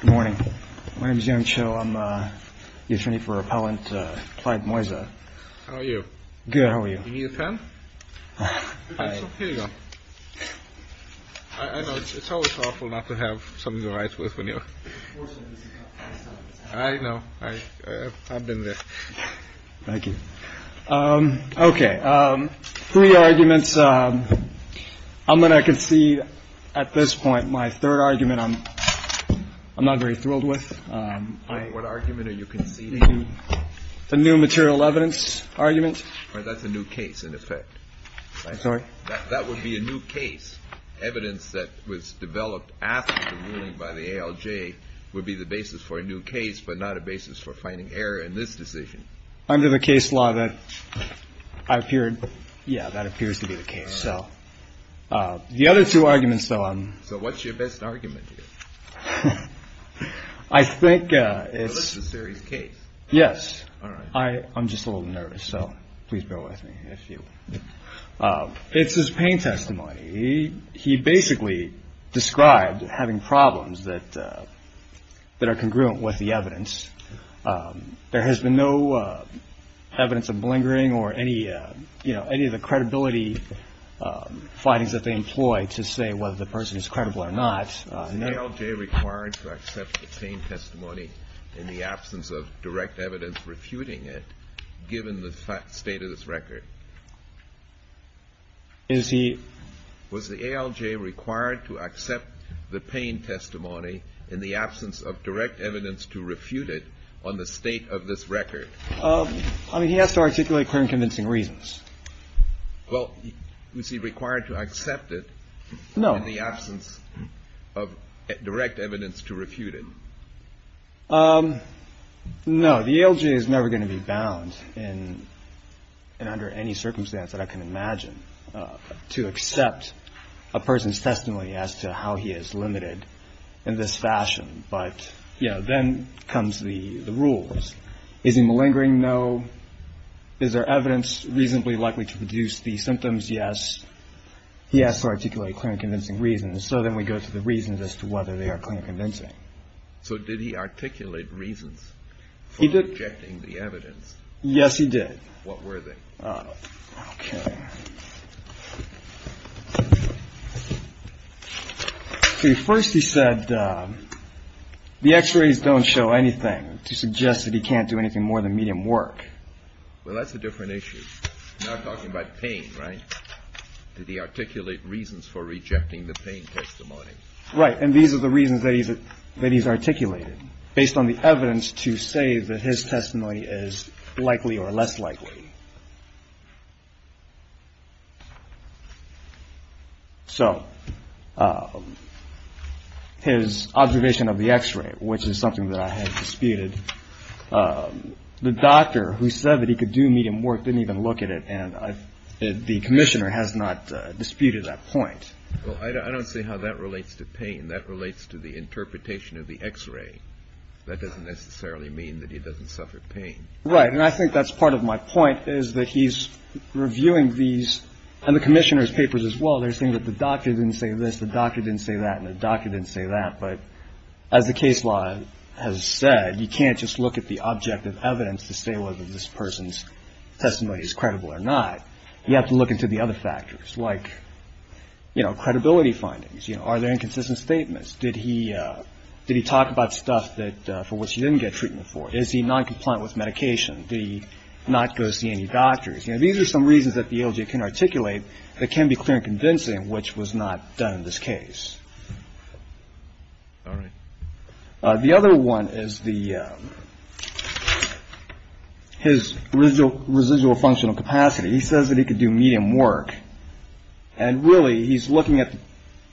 Good morning. My name is Yung Cho. I'm the attorney for Appellant Clyde Moisa. How are you? Good. How are you? Do you need a pen? Here you go. I know. It's always awful not to have something to write with when you're... Unfortunately, this is not the first time. I know. I've been there. Thank you. Okay. Three arguments. I'm going to concede at this point my third argument I'm not very thrilled with. What argument are you conceding? The new material evidence argument. That's a new case, in effect. Sorry? That would be a new case. Evidence that was developed after the ruling by the ALJ would be the basis for a new case, but not a basis for finding error in this decision. Under the case law, that appears to be the case. The other two arguments, though... So what's your best argument here? I think it's... This is a serious case. Yes. I'm just a little nervous, so please bear with me. It's his pain testimony. He basically described having problems that are congruent with the evidence. There has been no evidence of blingering or any of the credibility findings that they employ to say whether the person is credible or not. Was the ALJ required to accept the pain testimony in the absence of direct evidence refuting it, given the state of this record? Is he... Was the ALJ required to accept the pain testimony in the absence of direct evidence to refute it on the state of this record? I mean, he has to articulate clear and convincing reasons. Well, is he required to accept it in the absence of direct evidence to refute it? No. The ALJ is never going to be bound, and under any circumstance that I can imagine, to accept a person's testimony as to how he is limited in this fashion. But, you know, then comes the rules. Is he malingering? No. Is there evidence reasonably likely to produce the symptoms? Yes. He has to articulate clear and convincing reasons. So then we go to the reasons as to whether they are clear and convincing. So did he articulate reasons for rejecting the evidence? Yes, he did. What were they? Okay. First he said the x-rays don't show anything to suggest that he can't do anything more than medium work. Well, that's a different issue. You're not talking about pain, right? Did he articulate reasons for rejecting the pain testimony? Right. And these are the reasons that he's that he's articulated based on the evidence to say that his testimony is likely or less likely. So his observation of the x-ray, which is something that I have disputed, the doctor who said that he could do medium work didn't even look at it. And the commissioner has not disputed that point. Well, I don't see how that relates to pain. That relates to the interpretation of the x-ray. That doesn't necessarily mean that he doesn't suffer pain. Right. And I think that's part of my point is that he's reviewing these and the commissioner's papers as well. They're saying that the doctor didn't say this. The doctor didn't say that. And the doctor didn't say that. But as the case law has said, you can't just look at the object of evidence to say whether this person's testimony is credible or not. You have to look into the other factors like, you know, credibility findings. You know, are there inconsistent statements? Did he did he talk about stuff that for which he didn't get treatment for? Is he non-compliant with medication? Did he not go see any doctors? You know, these are some reasons that the ALJ can articulate that can be clear and convincing, which was not done in this case. All right. The other one is the his residual functional capacity. He says that he could do medium work. And really, he's looking at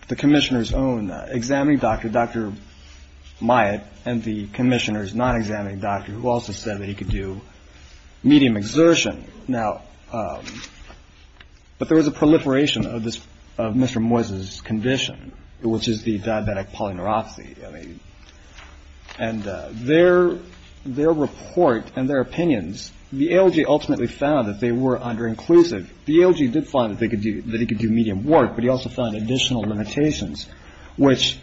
the commissioner's own examining doctor, Dr. Myatt and the commissioner's non-examining doctor, who also said that he could do medium exertion now. But there was a proliferation of this of Mr. Moyse's condition, which is the diabetic polyneuropathy. And their their report and their opinions, the ALJ ultimately found that they were under inclusive. The ALJ did find that they could do that. He could do medium work. But he also found additional limitations, which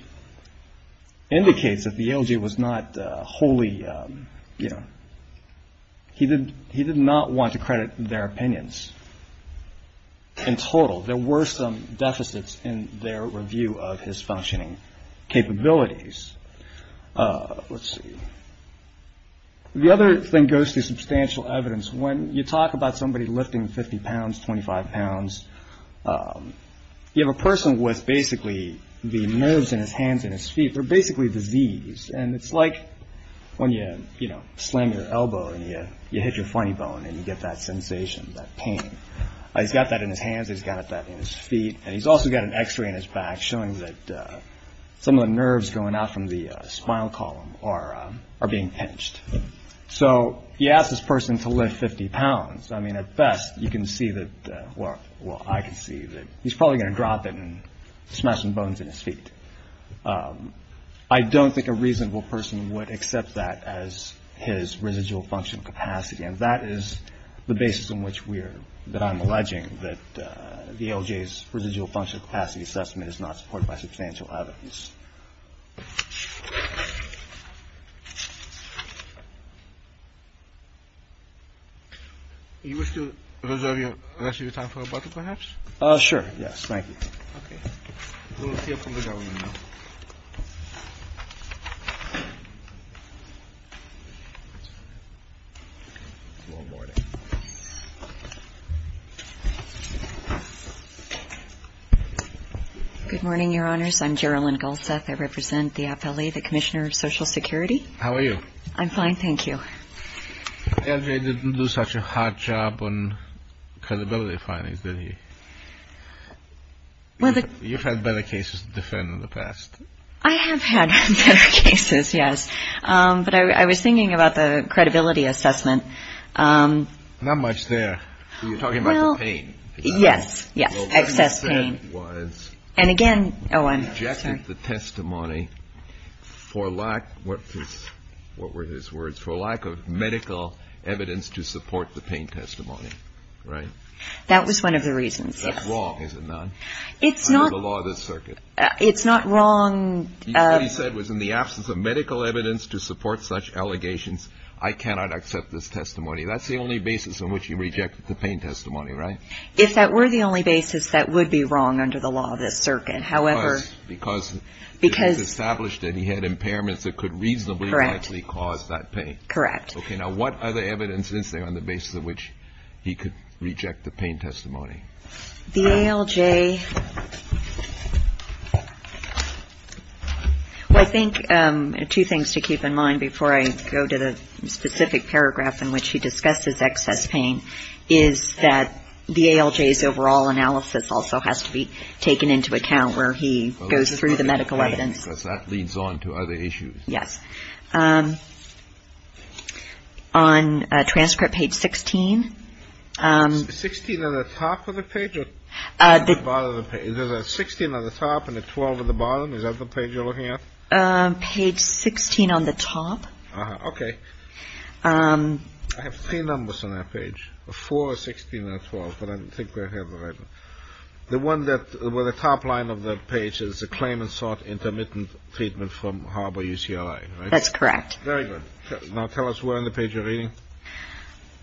indicates that the ALJ was not wholly. You know, he did he did not want to credit their opinions. In total, there were some deficits in their review of his functioning capabilities. Let's see. The other thing goes to substantial evidence. When you talk about somebody lifting 50 pounds, 25 pounds, you have a person with basically the nerves in his hands and his feet. They're basically diseased. And it's like when you, you know, slam your elbow and you hit your funny bone and you get that sensation, that pain. He's got that in his hands. He's got that in his feet. And he's also got an X-ray in his back showing that some of the nerves going out from the spinal column are are being pinched. So you ask this person to lift 50 pounds. I mean, at best you can see that. Well, I can see that he's probably going to drop it and smashing bones in his feet. I don't think a reasonable person would accept that as his residual functional capacity. And that is the basis on which we're that I'm alleging that the L.J.'s residual function capacity assessment is not supported by substantial evidence. He was to reserve the rest of your time for a bottle, perhaps. Sure. Yes. Thank you. Good morning, Your Honors. I'm Geraldine Goldseth. I represent the appellee, the commissioner of Social Security. How are you? I'm fine. Thank you. L.J. didn't do such a hard job on credibility findings, did he? Well, you've had better cases than I have. I have had better cases, yes. But I was thinking about the credibility assessment. Not much there. You're talking about the pain. Yes. Yes. Excess pain. And again, the testimony for lack. What is what were his words for lack of medical evidence to support the pain testimony? Right. That was one of the reasons. It's not the law of the circuit. It's not wrong. He said was in the absence of medical evidence to support such allegations. I cannot accept this testimony. That's the only basis on which you reject the pain testimony. Right. If that were the only basis that would be wrong under the law of this circuit. However, because because established that he had impairments that could reasonably correctly cause that pain. Correct. Okay. Now, what other evidence is there on the basis of which he could reject the pain testimony? The L.J. I think two things to keep in mind before I go to the specific paragraph in which he discusses excess pain is that the L.J.'s overall analysis also has to be taken into account where he goes through the medical evidence. That leads on to other issues. Yes. On a transcript page 16 16 on the top of the page. The bottom of the page is a 16 on the top and a 12 at the bottom. Is that the page you're looking at? Page 16 on the top. Okay. I have three numbers on that page for 16 or 12. The one that were the top line of the page is a claimant sought intermittent treatment from Harbor UCLA. That's correct. Very good. Now, tell us where on the page you're reading.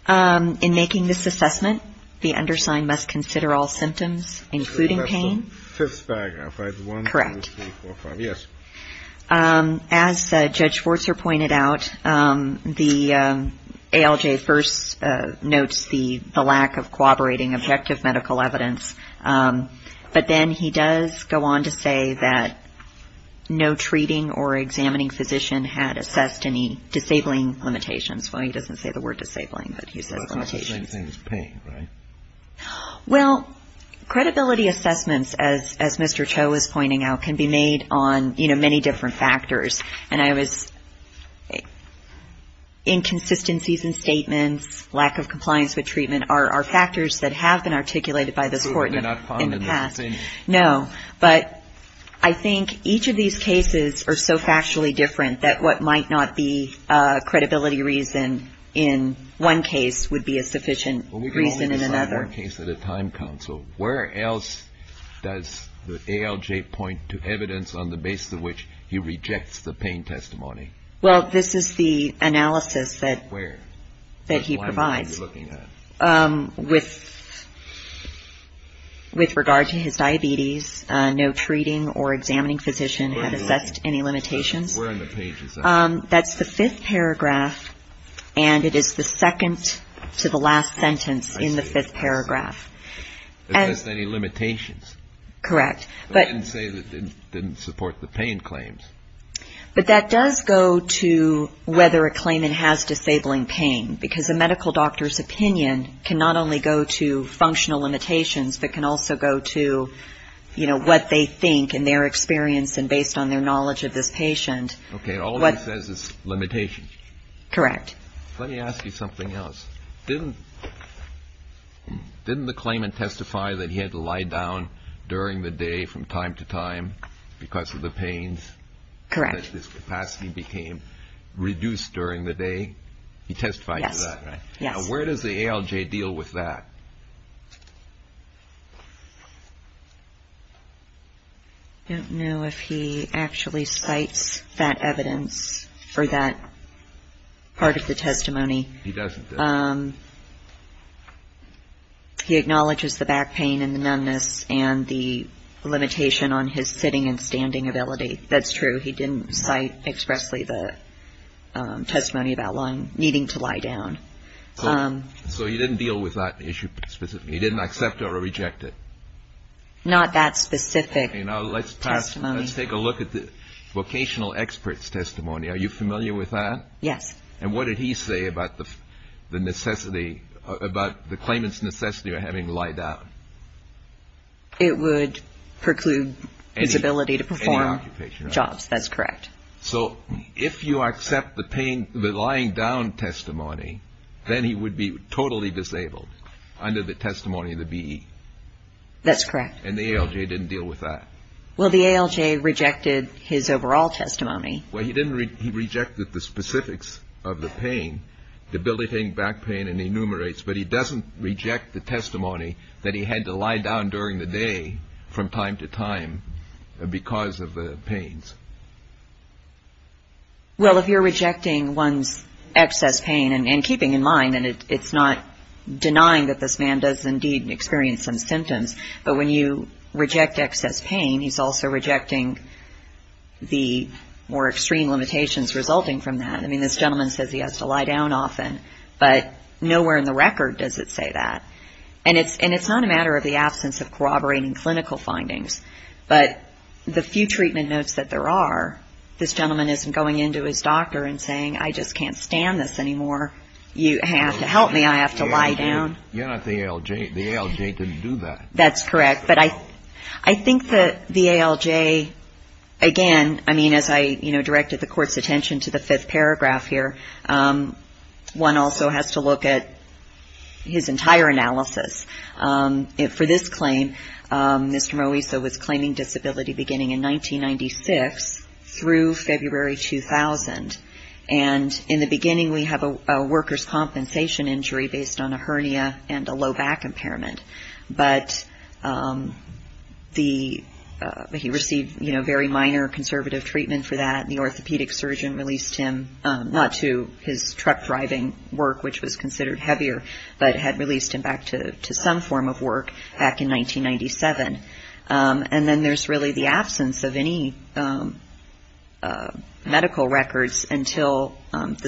In making this assessment, the undersigned must consider all symptoms, including pain. Fifth paragraph. One, two, three, four, five. Yes. As Judge Forster pointed out, the L.J. first notes the lack of cooperating objective medical evidence. But then he does go on to say that no treating or examining physician had assessed any disabling limitations. Well, he doesn't say the word disabling, but he says limitations. Well, credibility assessments, as Mr. Cho was pointing out, can be made on, you know, many different factors. And I was inconsistencies in statements, lack of compliance with treatment are factors that have been articulated by this court in the past. No, but I think each of these cases are so factually different that what might not be sufficient reason in another case at a time. So where else does the L.J. point to evidence on the basis of which he rejects the pain testimony? Well, this is the analysis that where that he provides with. With regard to his diabetes, no treating or examining physician had assessed any limitations. That's the fifth paragraph, and it is the second to the last sentence in the fifth paragraph. Correct. But that does go to whether a claimant has disabling pain, because a medical doctor's opinion can not only go to functional limitations, but can also go to, you know, what they think in their experience and based on their knowledge of this patient. Okay, all he says is limitations. Correct. Let me ask you something else. Didn't the claimant testify that he had to lie down during the day from time to time because of the pains? Correct. He testified that his capacity became reduced during the day. Yes. Now where does the L.J. deal with that? I don't know if he actually cites that evidence for that part of the testimony. He doesn't. He acknowledges the back pain and the numbness and the limitation on his sitting and standing ability. That's true. He didn't cite expressly the testimony about needing to lie down. So he didn't deal with that issue specifically? He didn't accept it or reject it? Not that specific testimony. Okay, now let's take a look at the vocational expert's testimony. Are you familiar with that? Yes. And what did he say about the claimant's necessity of having to lie down? It would preclude his ability to perform jobs. That's correct. So if you accept the lying down testimony, then he would be totally disabled under the testimony of the B.E.? That's correct. And the L.J. didn't deal with that? Well, the L.J. rejected his overall testimony. Well, he rejected the specifics of the pain, debilitating back pain and enumerates, but he doesn't reject the testimony that he had to lie down during the day from time to time because of the pains. Well, if you're rejecting one's excess pain and keeping in mind, and it's not denying that this man does indeed experience some symptoms, but when you reject excess pain, he's also rejecting the more extreme limitations resulting from that. I mean, this gentleman says he has to lie down often, but nowhere in the record does it say that. And it's not a matter of the absence of corroborating clinical findings, but the few treatment notes that there are, this gentleman isn't going into his doctor and saying, I just can't stand this anymore. You have to help me. I have to lie down. You're not the L.J. The L.J. didn't do that. That's correct. But I think that the L.J., again, I mean, as I directed the Court's attention to the fifth paragraph here, one also has to look at his entire analysis. For this claim, Mr. Moisa was claiming disability beginning in 1996 through February 2000, and in the beginning we have a worker's compensation injury based on a hernia and a low back impairment, but he received very minor conservative treatment for that, and the orthopedic surgeon released him, not to his truck driving work, which was considered heavier, but had released him back to some form of work back in 1997. And then there's really the absence of any medical records until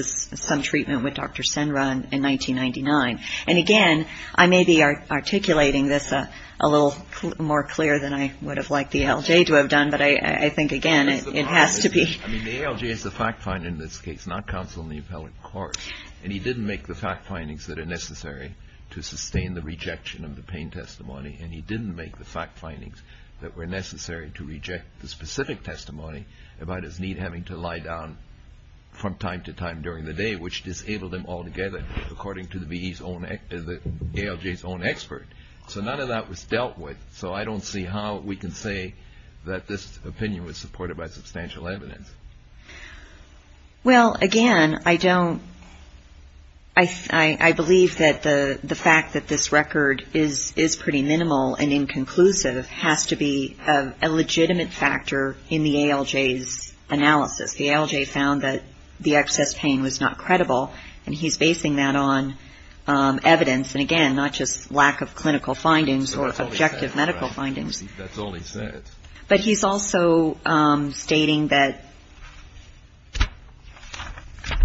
some treatment with Dr. Senra in 1999. And again, I may be articulating this a little more clear than I would have liked the L.J. to have done, but I think, again, it has to be. I mean, the L.J. is the fact finder in this case, not counsel in the appellate court, and he didn't make the fact findings that are necessary to sustain the rejection of the pain testimony, and he didn't make the fact findings that were necessary to reject the specific testimony about his knee having to lie down from time to time during the day, which disabled him altogether, according to the L.J.'s own expert. So none of that was dealt with, so I don't see how we can say that this opinion was supported by substantial evidence. Well, again, I believe that the fact that this record is pretty minimal and inconclusive has to be a legitimate factor in the L.J.'s analysis. The L.J. found that the excess pain was not credible, and he's basing that on evidence, and again, not just lack of clinical findings or objective medical findings. But he's also stating that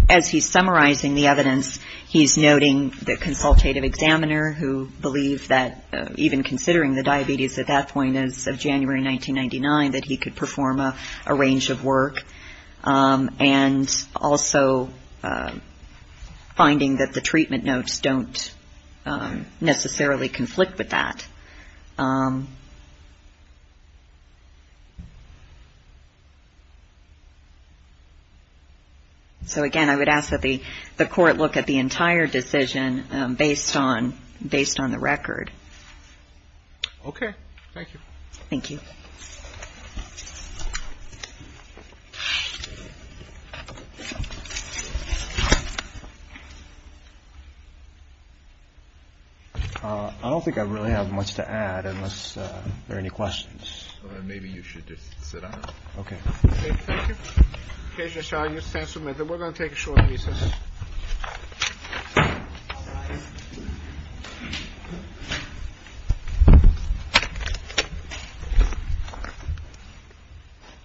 as he's summarizing the evidence, he's noting the consultative examiner, who believed that even considering the diabetes at that point as of January 1999, that he could perform a range of work, and also finding that the treatment notes don't necessarily conflict with that. So again, I would ask that the Court look at the entire decision based on the record. Okay. Thank you. I don't think I really have much to add unless there are any questions. Okay.